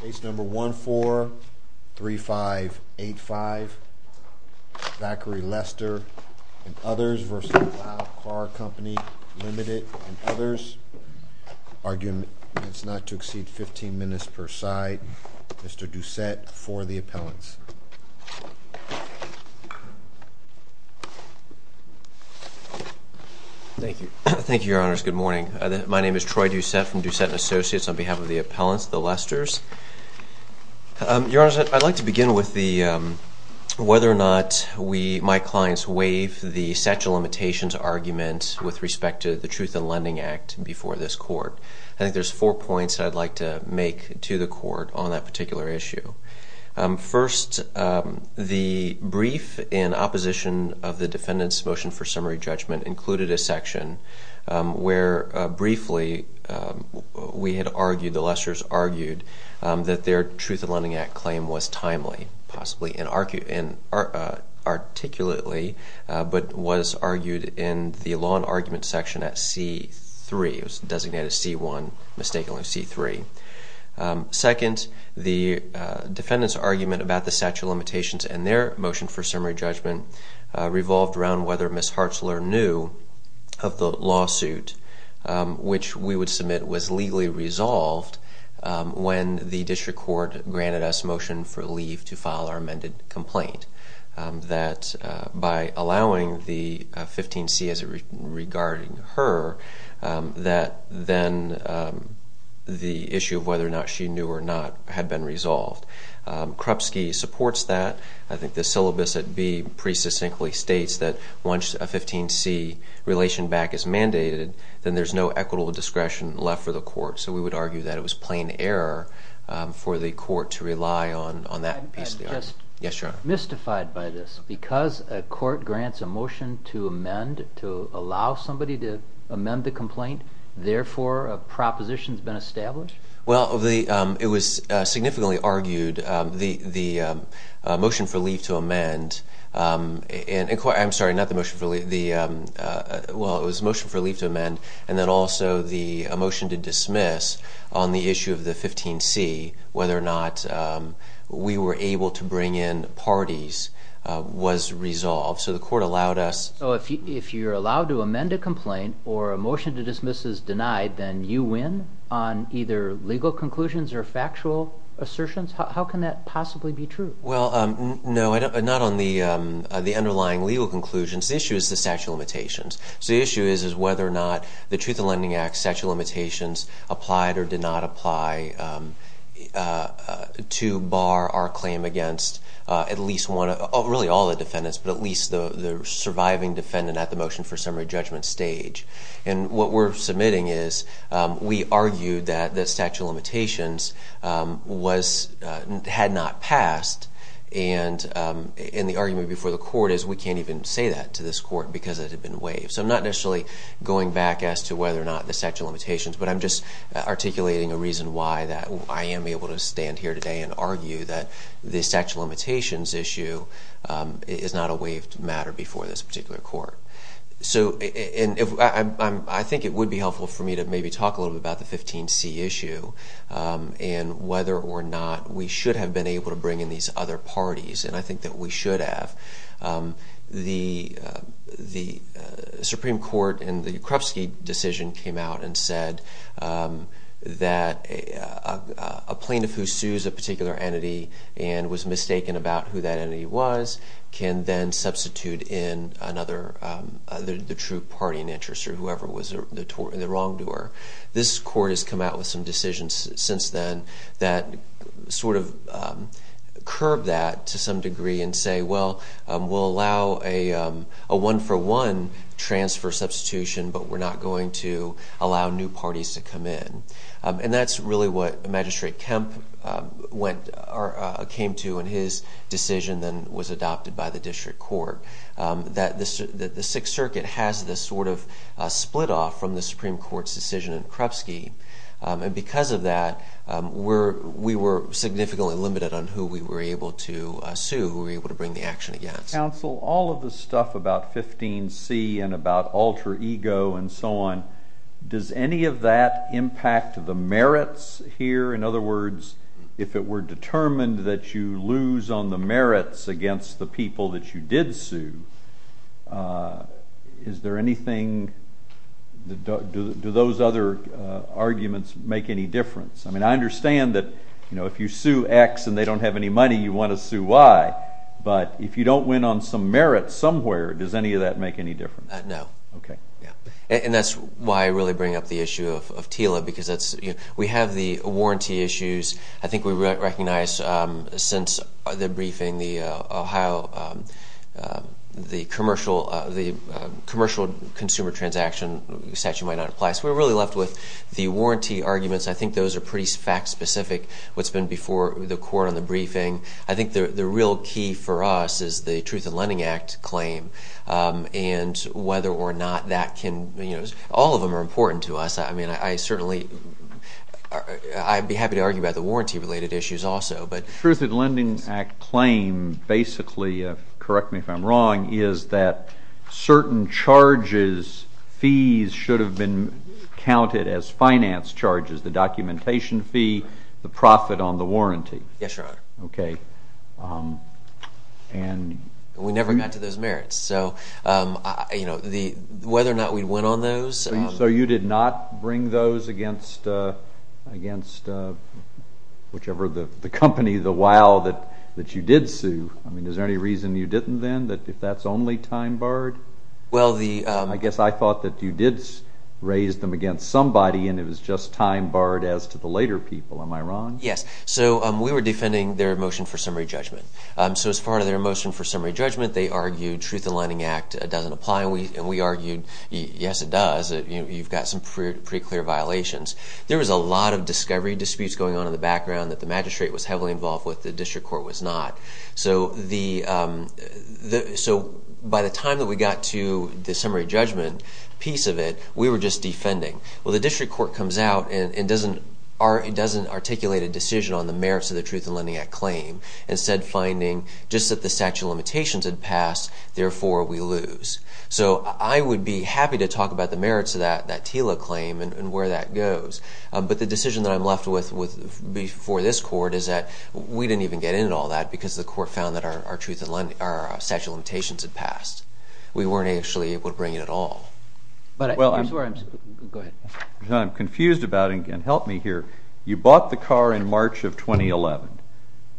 Ltd. and others. Argument is not to exceed 15 minutes per side. Mr. Doucette, for the appellants. Thank you. Thank you, Your Honors. Good morning. My name is Troy Doucette from Doucette & Associates on behalf of the appellants, the Lesters. Your Honors, I'd like to begin with the whether or not we, my clients, waive the sexual limitations argument with respect to the Truth in Lending Act before this court. I think there's four points I'd like to make to the court on that first. The brief in opposition of the defendant's motion for summary judgment included a section where briefly we had argued, the Lesters argued, that their Truth in Lending Act claim was timely, possibly articulately, but was argued in the law and argument section at C3. It their motion for summary judgment revolved around whether Ms. Hartzler knew of the lawsuit which we would submit was legally resolved when the district court granted us motion for leave to file our amended complaint. That by allowing the 15C regarding her, that then the issue of whether or not she knew or not had been resolved. Krupski supports that. I think the syllabus at B pretty succinctly states that once a 15C relation back is mandated, then there's no equitable discretion left for the court. So we would argue that it was plain error for the court to rely on that piece of the argument. I'm just mystified by this. Because a court grants a motion to amend, to allow somebody to amend the complaint, therefore a proposition's been established? Well, it was significantly argued. The motion for leave to amend, and I'm sorry, not the motion for leave, well it was motion for leave to amend, and then also the motion to dismiss on the issue of the 15C, whether or not we were able to bring in parties, was resolved. So the court allowed us... So if you're allowed to amend a complaint or a motion to dismiss is denied, then you win on either legal conclusions or factual assertions? How can that possibly be true? Well, no, not on the underlying legal conclusions. The issue is the statute of limitations. So the issue is whether or not the Truth in Lending Act statute of limitations applied or did not apply to bar our claim against at least one, really all the defendants, but at least the surviving defendant at the motion for summary judgment stage. And what we're submitting is we argued that the statute of limitations had not passed, and the argument before the court is we can't even say that to this court because it had been waived. So I'm not necessarily going back as to whether or not the statute of limitations, but I'm just articulating a reason why that I am able to stand here today and argue that the statute of limitations issue is not a waived matter before this particular court. So I think it would be helpful for me to maybe talk a little bit about the 15C issue and whether or not we should have been able to bring in these other parties, and I think that we should have. The Supreme Court in the Krupski decision came out and said that a plaintiff who sues a particular entity and was mistaken about who that entity was can then substitute in another And we're not going to allow for the true party in interest or whoever was the wrongdoer. This court has come out with some decisions since then that sort of curb that to some degree and say, well, we'll allow a one-for-one transfer substitution, but we're not going to allow new parties to come in. And that's really what Magistrate Kemp came to in his decision that was adopted by the district court, that the Sixth Circuit has this sort of split off from the Supreme Court's decision in Krupski, and because of that, we were significantly limited on who we were able to sue, who we were able to bring the action against. Counsel, all of the stuff about 15C and about alter ego and so on, does any of that impact the merits here? In other words, if it were determined that you lose on the merits against the people that you did sue, do those other arguments make any difference? I mean, I understand that if you sue X and they don't have any money, you want to sue Y, but if you don't win on some merit somewhere, does any of that make any difference? No. Okay. And that's why I really bring up the issue of TILA, because we have the warranty issues. I think we recognize since the briefing how the commercial consumer transaction statute might not apply, so we're really left with the warranty arguments. I think those are pretty fact-specific, what's been before the court on the briefing. I think the real key for us is the Truth in Lending Act claim, and whether or not that can – all of them are important to us. I mean, I certainly – I'd be happy to argue about the warranty-related issues also, but – The Truth in Lending Act claim basically – correct me if I'm wrong – is that certain charges, fees, should have been counted as finance charges, the documentation fee, the profit on the warranty. Yes, Your Honor. Okay. And – We never got to those merits, so whether or not we'd win on those – So you did not bring those against whichever – the company, the WOW that you did sue? I mean, is there any reason you didn't then, that if that's only time barred? Well, the – I guess I thought that you did raise them against somebody, and it was just time barred as to the later people. Am I wrong? Yes. So we were defending their motion for summary judgment. So as part of their motion for summary judgment, they argued Truth in Lending Act doesn't apply, and we argued, yes, it does. You've got some pretty clear violations. There was a lot of discovery disputes going on in the background that the magistrate was heavily involved with, the district court was not. So the – so by the time that we got to the summary judgment piece of it, we were just defending. Well, the district court comes out and doesn't articulate a decision on the merits of the Truth in Lending Act claim, instead finding just that the statute of limitations had passed, therefore we lose. So I would be happy to talk about the merits of that TILA claim and where that goes, but the decision that I'm left with before this court is that we didn't even get into all that because the court found that our statute of limitations had passed. We weren't actually able to bring it at all. I'm sorry. Go ahead. I'm confused about it again. Help me here. You bought the car in March of 2011.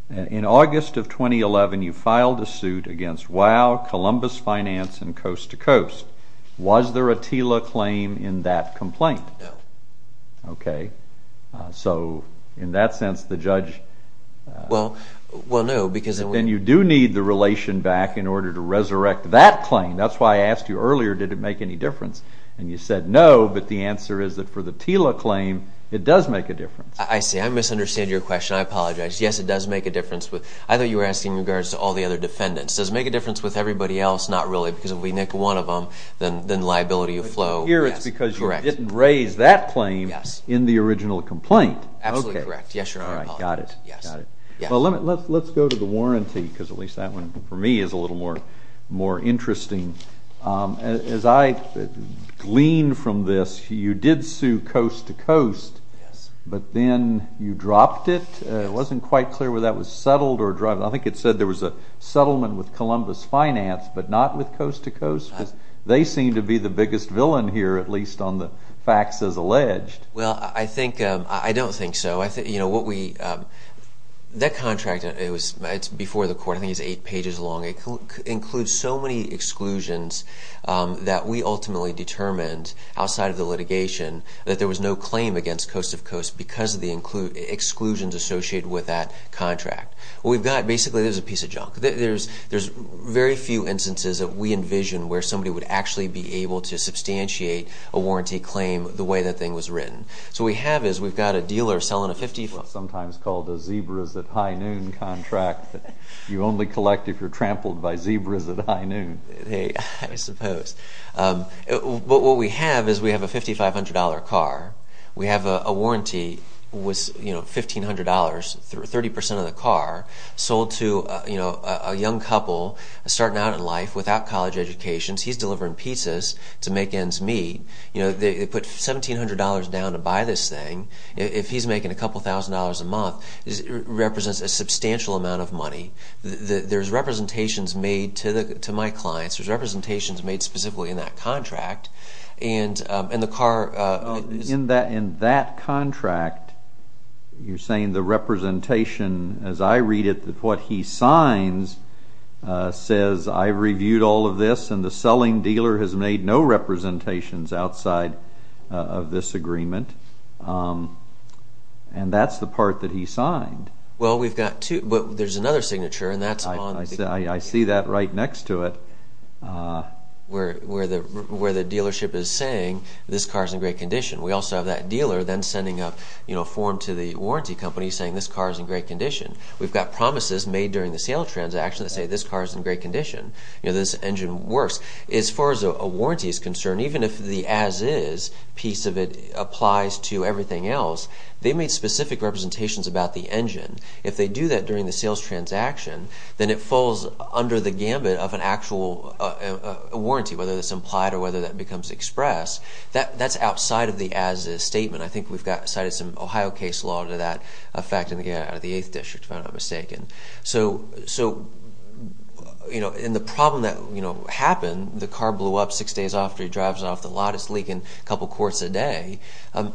In August of 2011, you filed a suit against WOW, Columbus Finance, and Coast to Coast. Was there a TILA claim in that complaint? No. Okay. So in that sense, the judge – Well, no, because – And you do need the relation back in order to resurrect that claim. That's why I asked you earlier, did it make any difference? And you said no, but the answer is that for the TILA claim, it does make a difference. I see. I misunderstand your question. I apologize. Yes, it does make a difference. I thought you were asking in regards to all the other defendants. Does it make a difference with everybody else? Not really, because if we nick one of them, then liability will flow. Here it's because you didn't raise that claim in the original complaint. Absolutely correct. Yes, Your Honor. Well, let's go to the warranty, because at least that one for me is a little more interesting. As I glean from this, you did sue Coast to Coast, but then you dropped it. It wasn't quite clear whether that was settled or dropped. I think it said there was a settlement with Columbus Finance, but not with Coast to Coast, because they seem to be the biggest villain here, at least on the facts as alleged. Well, I don't think so. That contract, it's before the court. I think it's eight pages long. It includes so many exclusions that we ultimately determined outside of the litigation that there was no claim against Coast to Coast because of the exclusions associated with that contract. Basically, there's a piece of junk. There's very few instances that we envision where somebody would actually be able to substantiate a warranty claim the way that thing was written. So what we have is we've got a dealer selling a $5,500 car. It's sometimes called a zebras at high noon contract. You only collect if you're trampled by zebras at high noon. I suppose. But what we have is we have a $5,500 car. We have a warranty. It was $1,500. Thirty percent of the car sold to a young couple starting out in life without college educations. He's delivering pizzas to make ends meet. They put $1,700 down to buy this thing. If he's making a couple thousand dollars a month, it represents a substantial amount of money. There's representations made to my clients. There's representations made specifically in that contract. In that contract, you're saying the representation, as I read it, what he signs says, I reviewed all of this, and the selling dealer has made no representations outside of this agreement. And that's the part that he signed. Well, we've got two. But there's another signature, and that's on. I see that right next to it. Where the dealership is saying this car is in great condition. We also have that dealer then sending a form to the warranty company saying this car is in great condition. We've got promises made during the sale transaction that say this car is in great condition. This engine works. As far as a warranty is concerned, even if the as-is piece of it applies to everything else, they made specific representations about the engine. If they do that during the sales transaction, then it falls under the gambit of an actual warranty, whether it's implied or whether that becomes express. That's outside of the as-is statement. I think we've cited some Ohio case law to that effect out of the 8th District, if I'm not mistaken. And the problem that happened, the car blew up six days after he drives it off the lot, it's leaking a couple of quarts a day,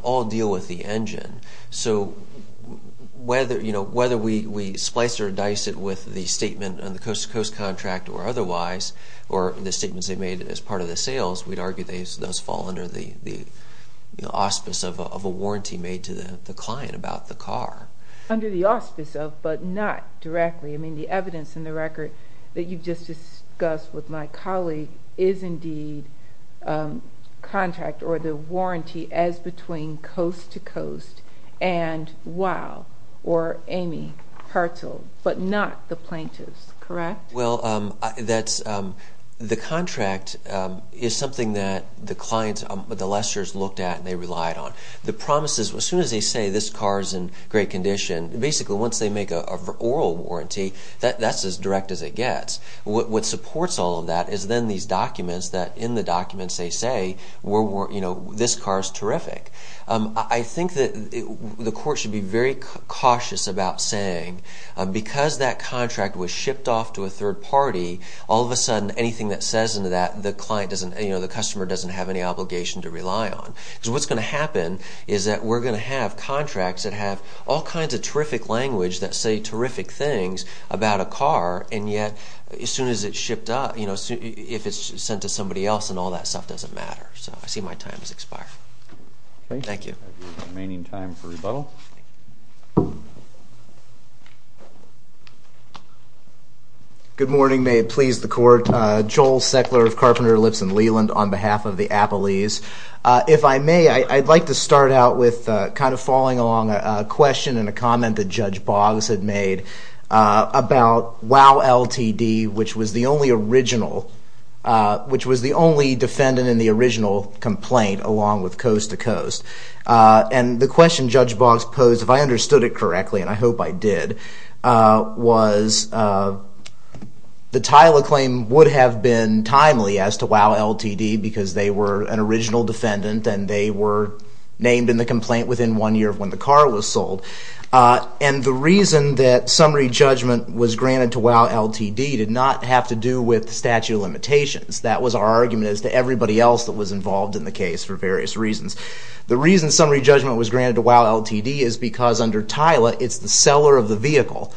all deal with the engine. So whether we splice or dice it with the statement on the coast-to-coast contract or otherwise, or the statements they made as part of the sales, we'd argue those fall under the auspice of a warranty made to the client about the car. Under the auspice of, but not directly. I mean, the evidence in the record that you've just discussed with my colleague is indeed contract or the warranty as between coast-to-coast and WOW or Amy Hartzell, but not the plaintiffs, correct? Well, the contract is something that the clients, the lessors, looked at and they relied on. The promises, as soon as they say this car is in great condition, basically once they make an oral warranty, that's as direct as it gets. What supports all of that is then these documents that in the documents they say this car is terrific. I think that the court should be very cautious about saying, because that contract was shipped off to a third party, all of a sudden anything that says into that the client doesn't, the customer doesn't have any obligation to rely on. Because what's going to happen is that we're going to have contracts that have all kinds of terrific language that say terrific things about a car, and yet as soon as it's shipped up, if it's sent to somebody else and all that stuff doesn't matter. So I see my time has expired. Thank you. Remaining time for rebuttal. Good morning. May it please the court. Joel Seckler of Carpenter, Lipson, Leland on behalf of the Appalese. If I may, I'd like to start out with kind of following along a question and a comment that Judge Boggs had made about WowLTD, which was the only original, which was the only defendant in the original complaint along with Coast to Coast. And the question Judge Boggs posed, if I understood it correctly, and I hope I did, was the title of claim would have been timely as to WowLTD because they were an original defendant and they were named in the complaint within one year of when the car was sold. And the reason that summary judgment was granted to WowLTD did not have to do with statute of limitations. That was our argument as to everybody else that was involved in the case for various reasons. The reason summary judgment was granted to WowLTD is because under TILA, it's the seller of the vehicle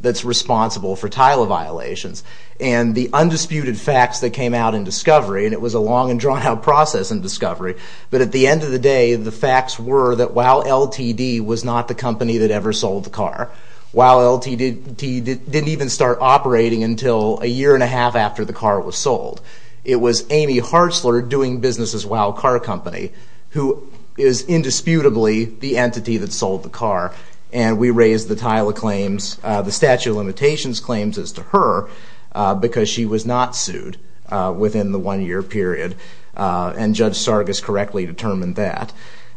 that's responsible for TILA violations. And the undisputed facts that came out in discovery, and it was a long and drawn-out process in discovery, but at the end of the day, the facts were that WowLTD was not the company that ever sold the car. WowLTD didn't even start operating until a year and a half after the car was sold. It was Amy Hartzler doing business as Wow Car Company, who is indisputably the entity that sold the car. And we raised the TILA claims, the statute of limitations claims as to her, because she was not sued within the one-year period. And Judge Sargas correctly determined that.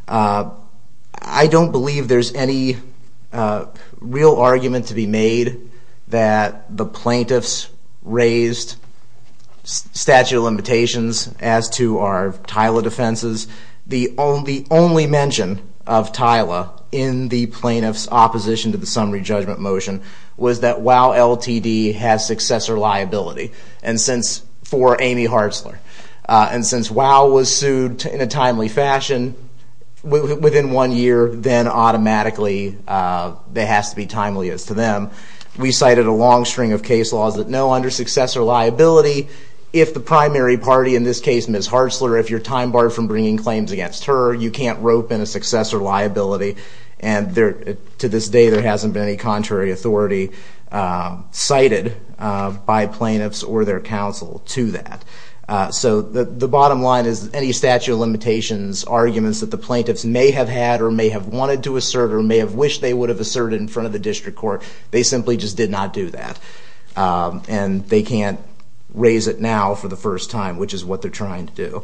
I don't believe there's any real argument to be made that the plaintiffs raised statute of limitations as to our TILA defenses. The only mention of TILA in the plaintiffs' opposition to the summary judgment motion was that WowLTD has successor liability. For Amy Hartzler. And since Wow was sued in a timely fashion within one year, then automatically it has to be timely as to them. We cited a long string of case laws that know under successor liability, if the primary party, in this case Ms. Hartzler, if you're time-barred from bringing claims against her, you can't rope in a successor liability. To this day, there hasn't been any contrary authority cited by plaintiffs or their counsel to that. So the bottom line is any statute of limitations arguments that the plaintiffs may have had or may have wanted to assert or may have wished they would have asserted in front of the district court, they simply just did not do that. And they can't raise it now for the first time, which is what they're trying to do.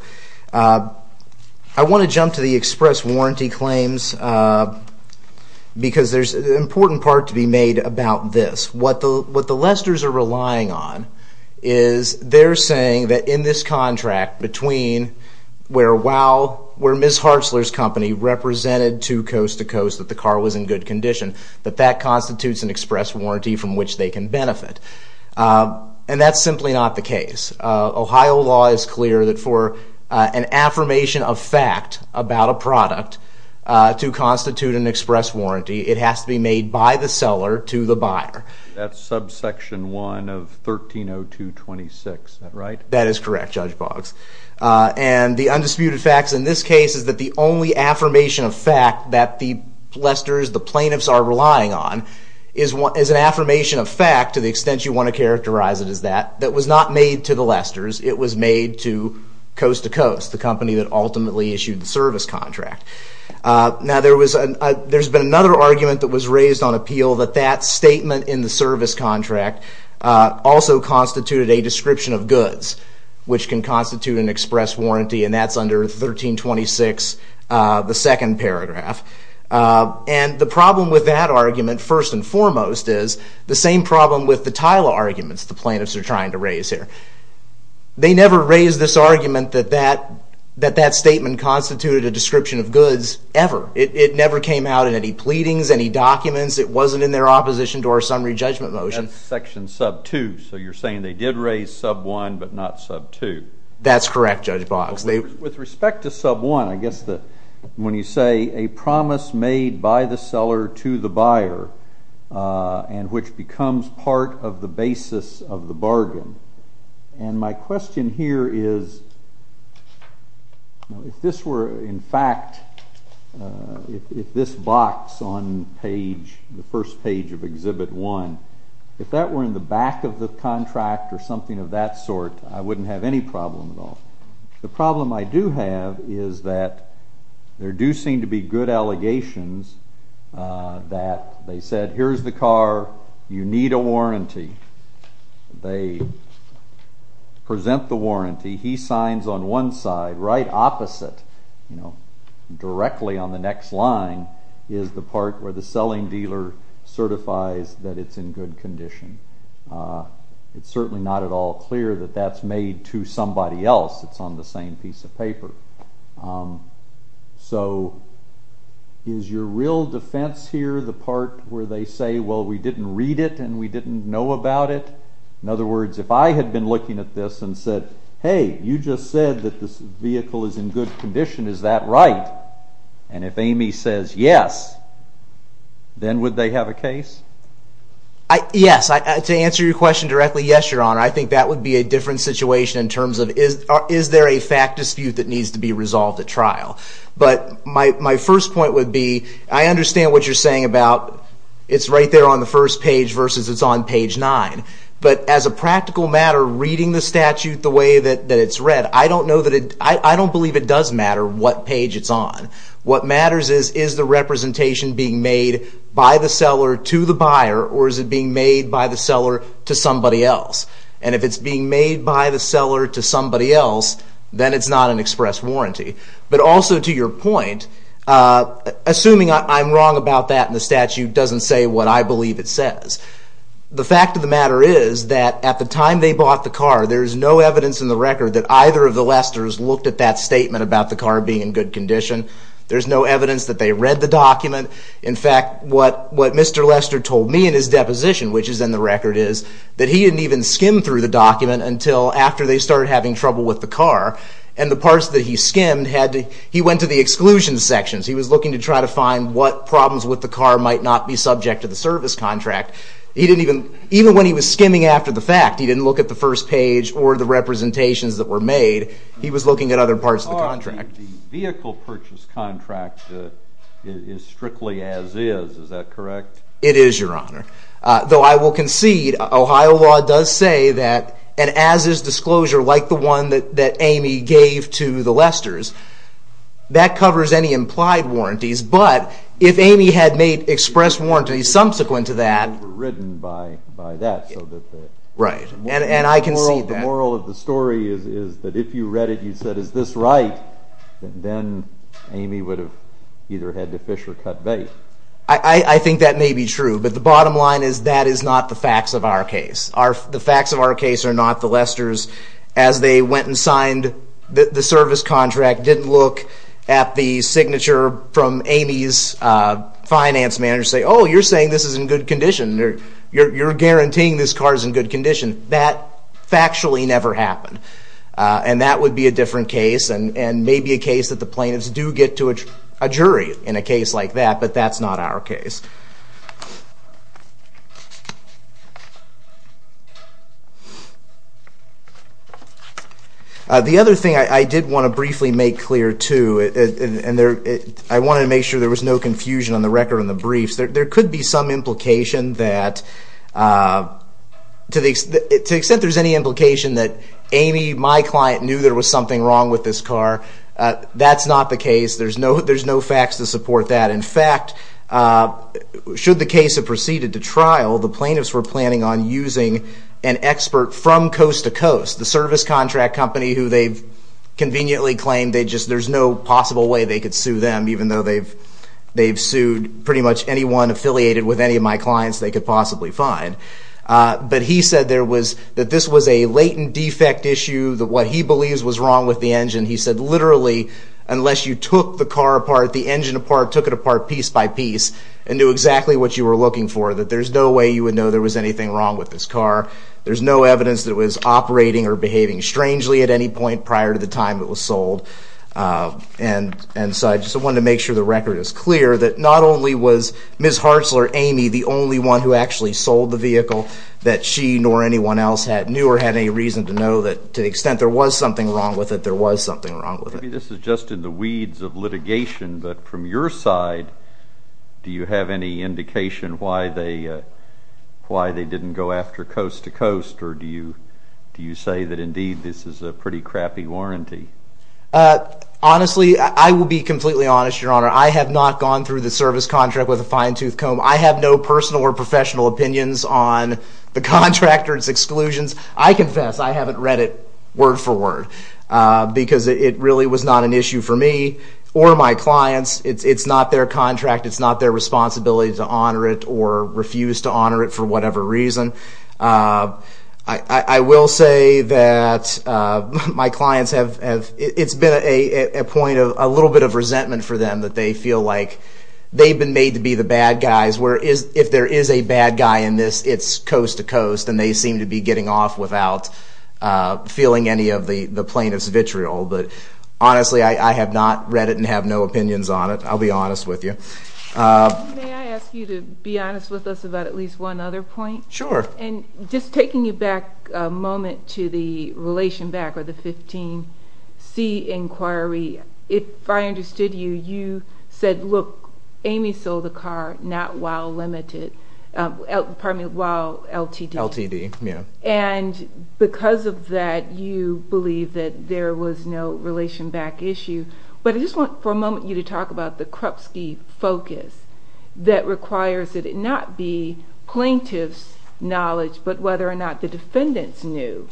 I want to jump to the express warranty claims because there's an important part to be made about this. What the Lesters are relying on is they're saying that in this contract, between where Ms. Hartzler's company represented to Coast to Coast that the car was in good condition, that that constitutes an express warranty from which they can benefit. And that's simply not the case. Ohio law is clear that for an affirmation of fact about a product to constitute an express warranty, it has to be made by the seller to the buyer. That's subsection 1 of 1302.26, is that right? That is correct, Judge Boggs. And the undisputed fact in this case is that the only affirmation of fact that the Lesters, the plaintiffs, are relying on is an affirmation of fact, to the extent you want to characterize it as that, that was not made to the Lesters. It was made to Coast to Coast, the company that ultimately issued the service contract. Now, there's been another argument that was raised on appeal, that that statement in the service contract also constituted a description of goods, which can constitute an express warranty, and that's under 1326, the second paragraph. And the problem with that argument, first and foremost, is the same problem with the Tyler arguments the plaintiffs are trying to raise here. They never raised this argument that that statement constituted a description of goods, ever. It never came out in any pleadings, any documents. It wasn't in their opposition to our summary judgment motion. That's section sub 2, so you're saying they did raise sub 1 but not sub 2. That's correct, Judge Boggs. With respect to sub 1, I guess that when you say a promise made by the seller to the buyer and which becomes part of the basis of the bargain, and my question here is if this were, in fact, if this box on the first page of Exhibit 1, if that were in the back of the contract or something of that sort, I wouldn't have any problem at all. The problem I do have is that there do seem to be good allegations that they said, here's the car, you need a warranty. They present the warranty. He signs on one side. Right opposite, you know, directly on the next line, is the part where the selling dealer certifies that it's in good condition. It's certainly not at all clear that that's made to somebody else. It's on the same piece of paper. So is your real defense here the part where they say, well, we didn't read it and we didn't know about it? In other words, if I had been looking at this and said, hey, you just said that this vehicle is in good condition. Is that right? And if Amy says yes, then would they have a case? Yes. To answer your question directly, yes, Your Honor. I think that would be a different situation in terms of is there a fact dispute that needs to be resolved at trial. But my first point would be I understand what you're saying about it's right there on the first page versus it's on page 9. But as a practical matter, reading the statute the way that it's read, I don't believe it does matter what page it's on. What matters is, is the representation being made by the seller to the buyer or is it being made by the seller to somebody else? And if it's being made by the seller to somebody else, then it's not an express warranty. But also to your point, assuming I'm wrong about that and the statute doesn't say what I believe it says, the fact of the matter is that at the time they bought the car, there's no evidence in the record that either of the Lesters looked at that statement about the car being in good condition. There's no evidence that they read the document. In fact, what Mr. Lester told me in his deposition, which is in the record, is that he didn't even skim through the document until after they started having trouble with the car. And the parts that he skimmed, he went to the exclusion sections. He was looking to try to find what problems with the car might not be subject to the service contract. Even when he was skimming after the fact, he didn't look at the first page or the representations that were made. He was looking at other parts of the contract. The vehicle purchase contract is strictly as-is. Is that correct? It is, Your Honor. Though I will concede, Ohio law does say that an as-is disclosure, like the one that Amy gave to the Lesters, that covers any implied warranties. But if Amy had made express warranties subsequent to that... They were overridden by that. Right. And I concede that. The moral of the story is that if you read it, you said, Is this right? Then Amy would have either had to fish or cut bait. I think that may be true. But the bottom line is that is not the facts of our case. The facts of our case are not the Lesters. As they went and signed the service contract, didn't look at the signature from Amy's finance manager, say, Oh, you're saying this is in good condition. You're guaranteeing this car is in good condition. That factually never happened. And that would be a different case, and maybe a case that the plaintiffs do get to a jury in a case like that. But that's not our case. The other thing I did want to briefly make clear, too, and I wanted to make sure there was no confusion on the record in the briefs, there could be some implication that, to the extent there's any implication that Amy, my client, knew there was something wrong with this car, that's not the case. There's no facts to support that. In fact, should the case have proceeded to trial, the plaintiffs were planning on using an expert from coast to coast, the service contract company who they've conveniently claimed there's no possible way they could sue them, even though they've sued pretty much anyone affiliated with any of my clients they could possibly find. But he said that this was a latent defect issue, that what he believes was wrong with the engine. He said, literally, unless you took the car apart, the engine apart, took it apart piece by piece and knew exactly what you were looking for, that there's no way you would know there was anything wrong with this car. There's no evidence that it was operating or behaving strangely at any point prior to the time it was sold. And so I just wanted to make sure the record is clear, that not only was Ms. Hartzler, Amy, the only one who actually sold the vehicle that she nor anyone else knew or had any reason to know that to the extent there was something wrong with it, there was something wrong with it. Maybe this is just in the weeds of litigation, but from your side do you have any indication why they didn't go after coast to coast, or do you say that indeed this is a pretty crappy warranty? Honestly, I will be completely honest, Your Honor. I have not gone through the service contract with a fine-tooth comb. I have no personal or professional opinions on the contract or its exclusions. I confess I haven't read it word for word, because it really was not an issue for me or my clients. It's not their contract. It's not their responsibility to honor it or refuse to honor it for whatever reason. I will say that my clients have, it's been a point of a little bit of resentment for them, that they feel like they've been made to be the bad guys, where if there is a bad guy in this, it's coast to coast, and they seem to be getting off without feeling any of the plaintiff's vitriol. But honestly, I have not read it and have no opinions on it. I'll be honest with you. May I ask you to be honest with us about at least one other point? Sure. Just taking you back a moment to the relation back or the 15C inquiry, if I understood you, you said, look, Amy sold the car not while limited, pardon me, while LTD. LTD, yeah. And because of that, you believe that there was no relation back issue. But I just want for a moment you to talk about the Krupsky focus that requires that it not be plaintiff's knowledge, but whether or not the defendants knew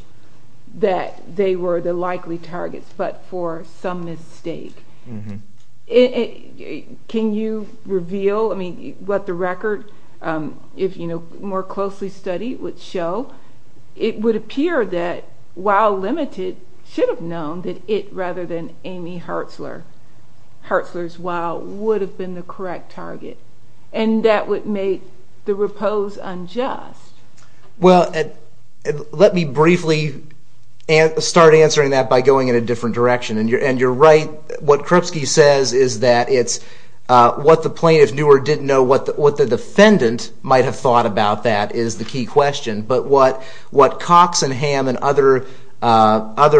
that they were the likely targets, but for some mistake. Can you reveal, I mean, what the record, if more closely studied would show, it would appear that while limited should have known that it, rather than Amy Hartzler, Hartzler's while would have been the correct target. And that would make the repose unjust. Well, let me briefly start answering that by going in a different direction. And you're right. What Krupsky says is that it's what the plaintiff knew or didn't know, what the defendant might have thought about that is the key question. But what Cox and Ham and other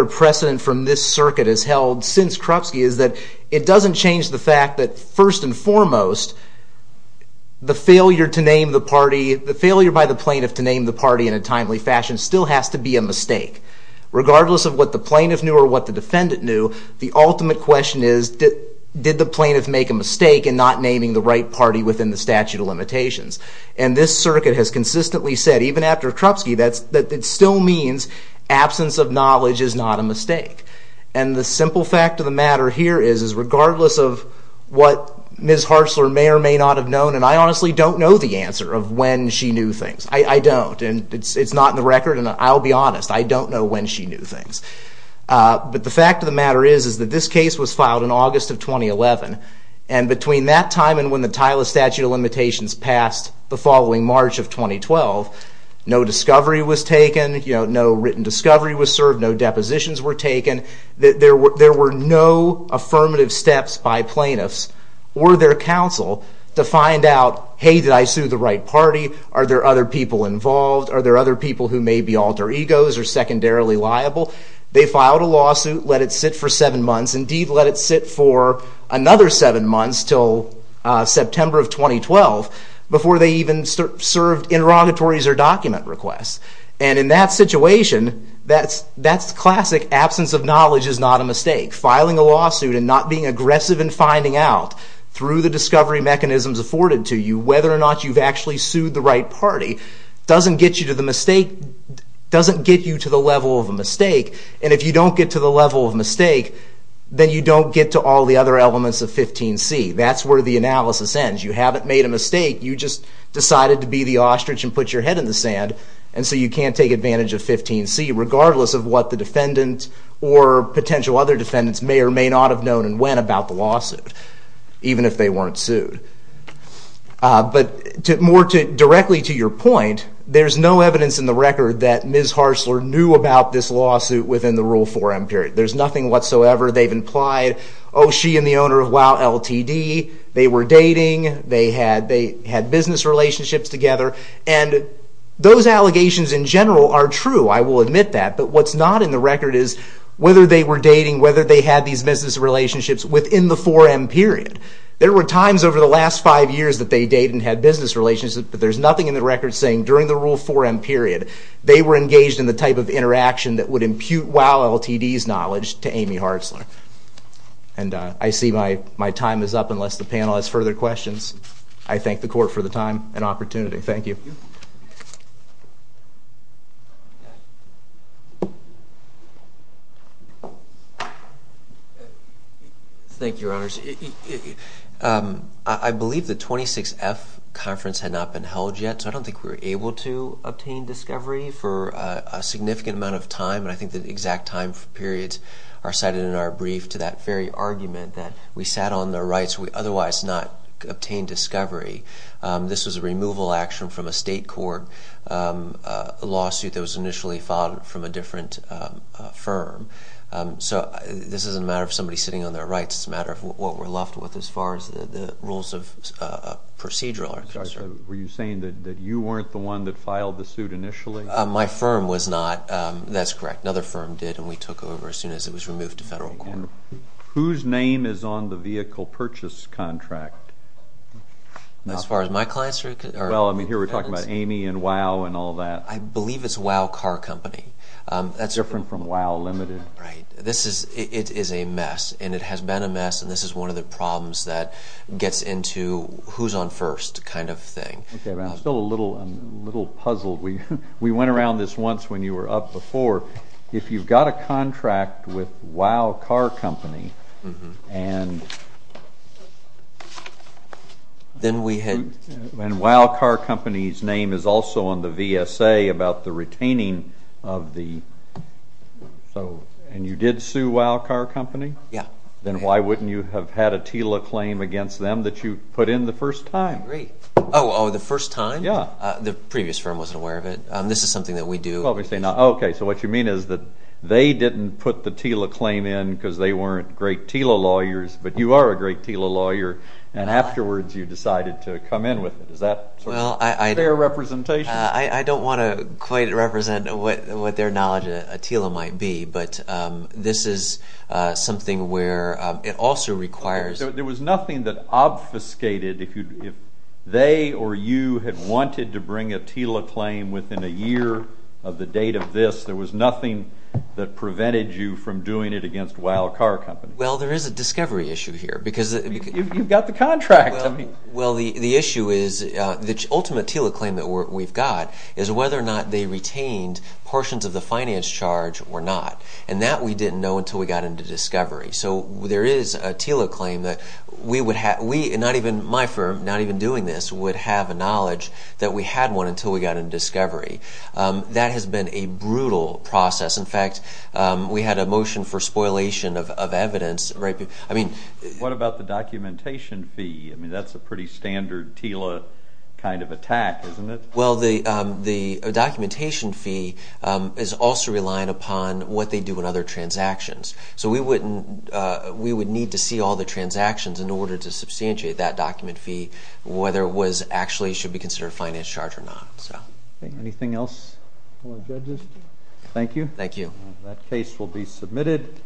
precedent from this circuit has held since it doesn't change the fact that, first and foremost, the failure to name the party, the failure by the plaintiff to name the party in a timely fashion still has to be a mistake. Regardless of what the plaintiff knew or what the defendant knew, the ultimate question is, did the plaintiff make a mistake in not naming the right party within the statute of limitations? And this circuit has consistently said, even after Krupsky, that it still means absence of knowledge is not a mistake. And the simple fact of the matter here is, is regardless of what Ms. Hartzler may or may not have known, and I honestly don't know the answer of when she knew things. I don't. And it's not in the record, and I'll be honest. I don't know when she knew things. But the fact of the matter is, is that this case was filed in August of 2011. And between that time and when the title of statute of limitations passed the following March of 2012, no discovery was taken, no written discovery was served, no depositions were taken. There were no affirmative steps by plaintiffs or their counsel to find out, hey, did I sue the right party? Are there other people involved? Are there other people who may be alter egos or secondarily liable? They filed a lawsuit, let it sit for seven months, indeed let it sit for another seven months until September of 2012, before they even served interrogatories or document requests. And in that situation, that's classic absence of knowledge is not a mistake. Filing a lawsuit and not being aggressive in finding out, through the discovery mechanisms afforded to you, whether or not you've actually sued the right party, doesn't get you to the level of a mistake. And if you don't get to the level of a mistake, then you don't get to all the other elements of 15C. That's where the analysis ends. You haven't made a mistake, you just decided to be the ostrich and put your head in the sand, and so you can't take advantage of 15C, regardless of what the defendant or potential other defendants may or may not have known and when about the lawsuit, even if they weren't sued. But more directly to your point, there's no evidence in the record that Ms. Harsler knew about this lawsuit within the Rule 4M period. There's nothing whatsoever. They've implied, oh, she and the owner of WOW Ltd., they were dating, they had business relationships together, and those allegations in general are true, I will admit that. But what's not in the record is whether they were dating, whether they had these business relationships within the 4M period. There were times over the last five years that they dated and had business relationships, but there's nothing in the record saying during the Rule 4M period they were engaged in the type of interaction that would impute WOW Ltd.'s knowledge to Amy Harsler. And I see my time is up unless the panel has further questions. I thank the Court for the time and opportunity. Thank you. Thank you, Your Honors. I believe the 26F conference had not been held yet, so I don't think we were able to obtain discovery for a significant amount of time, and I think the exact time periods are cited in our brief to that very argument that we sat on their rights, we otherwise not obtained discovery. This was a removal action from a state court lawsuit that was initially filed from a different firm. So this isn't a matter of somebody sitting on their rights, it's a matter of what we're left with as far as the rules of procedural. Were you saying that you weren't the one that filed the suit initially? My firm was not. That's correct. Another firm did, and we took over as soon as it was removed to federal court. Whose name is on the vehicle purchase contract? As far as my clients are concerned? Well, I mean, here we're talking about Amy and WOW and all that. I believe it's WOW Car Company. Different from WOW Ltd. Right. It is a mess, and it has been a mess, and this is one of the problems that gets into who's on first kind of thing. I'm still a little puzzled. We went around this once when you were up before. If you've got a contract with WOW Car Company and WOW Car Company's name is also on the VSA about the retaining of the... And you did sue WOW Car Company? Yeah. Then why wouldn't you have had a TILA claim against them that you put in the first time? I agree. Oh, the first time? Yeah. The previous firm wasn't aware of it. This is something that we do. Okay, so what you mean is that they didn't put the TILA claim in because they weren't great TILA lawyers, but you are a great TILA lawyer, and afterwards you decided to come in with it. Is that sort of fair representation? I don't want to quite represent what their knowledge of a TILA might be, but this is something where it also requires... There was nothing that obfuscated if they or you had wanted to bring a TILA claim within a year of the date of this. There was nothing that prevented you from doing it against WOW Car Company. Well, there is a discovery issue here because... You've got the contract. Well, the issue is the ultimate TILA claim that we've got is whether or not they retained portions of the finance charge or not, and that we didn't know until we got into discovery. So there is a TILA claim that we would have... My firm, not even doing this, would have a knowledge that we had one until we got into discovery. That has been a brutal process. In fact, we had a motion for spoilation of evidence. What about the documentation fee? I mean, that's a pretty standard TILA kind of attack, isn't it? Well, the documentation fee is also relying upon what they do in other transactions. So we would need to see all the transactions in order to substantiate that document fee, whether it actually should be considered a finance charge or not. Anything else for our judges? Thank you. Thank you. That case will be submitted.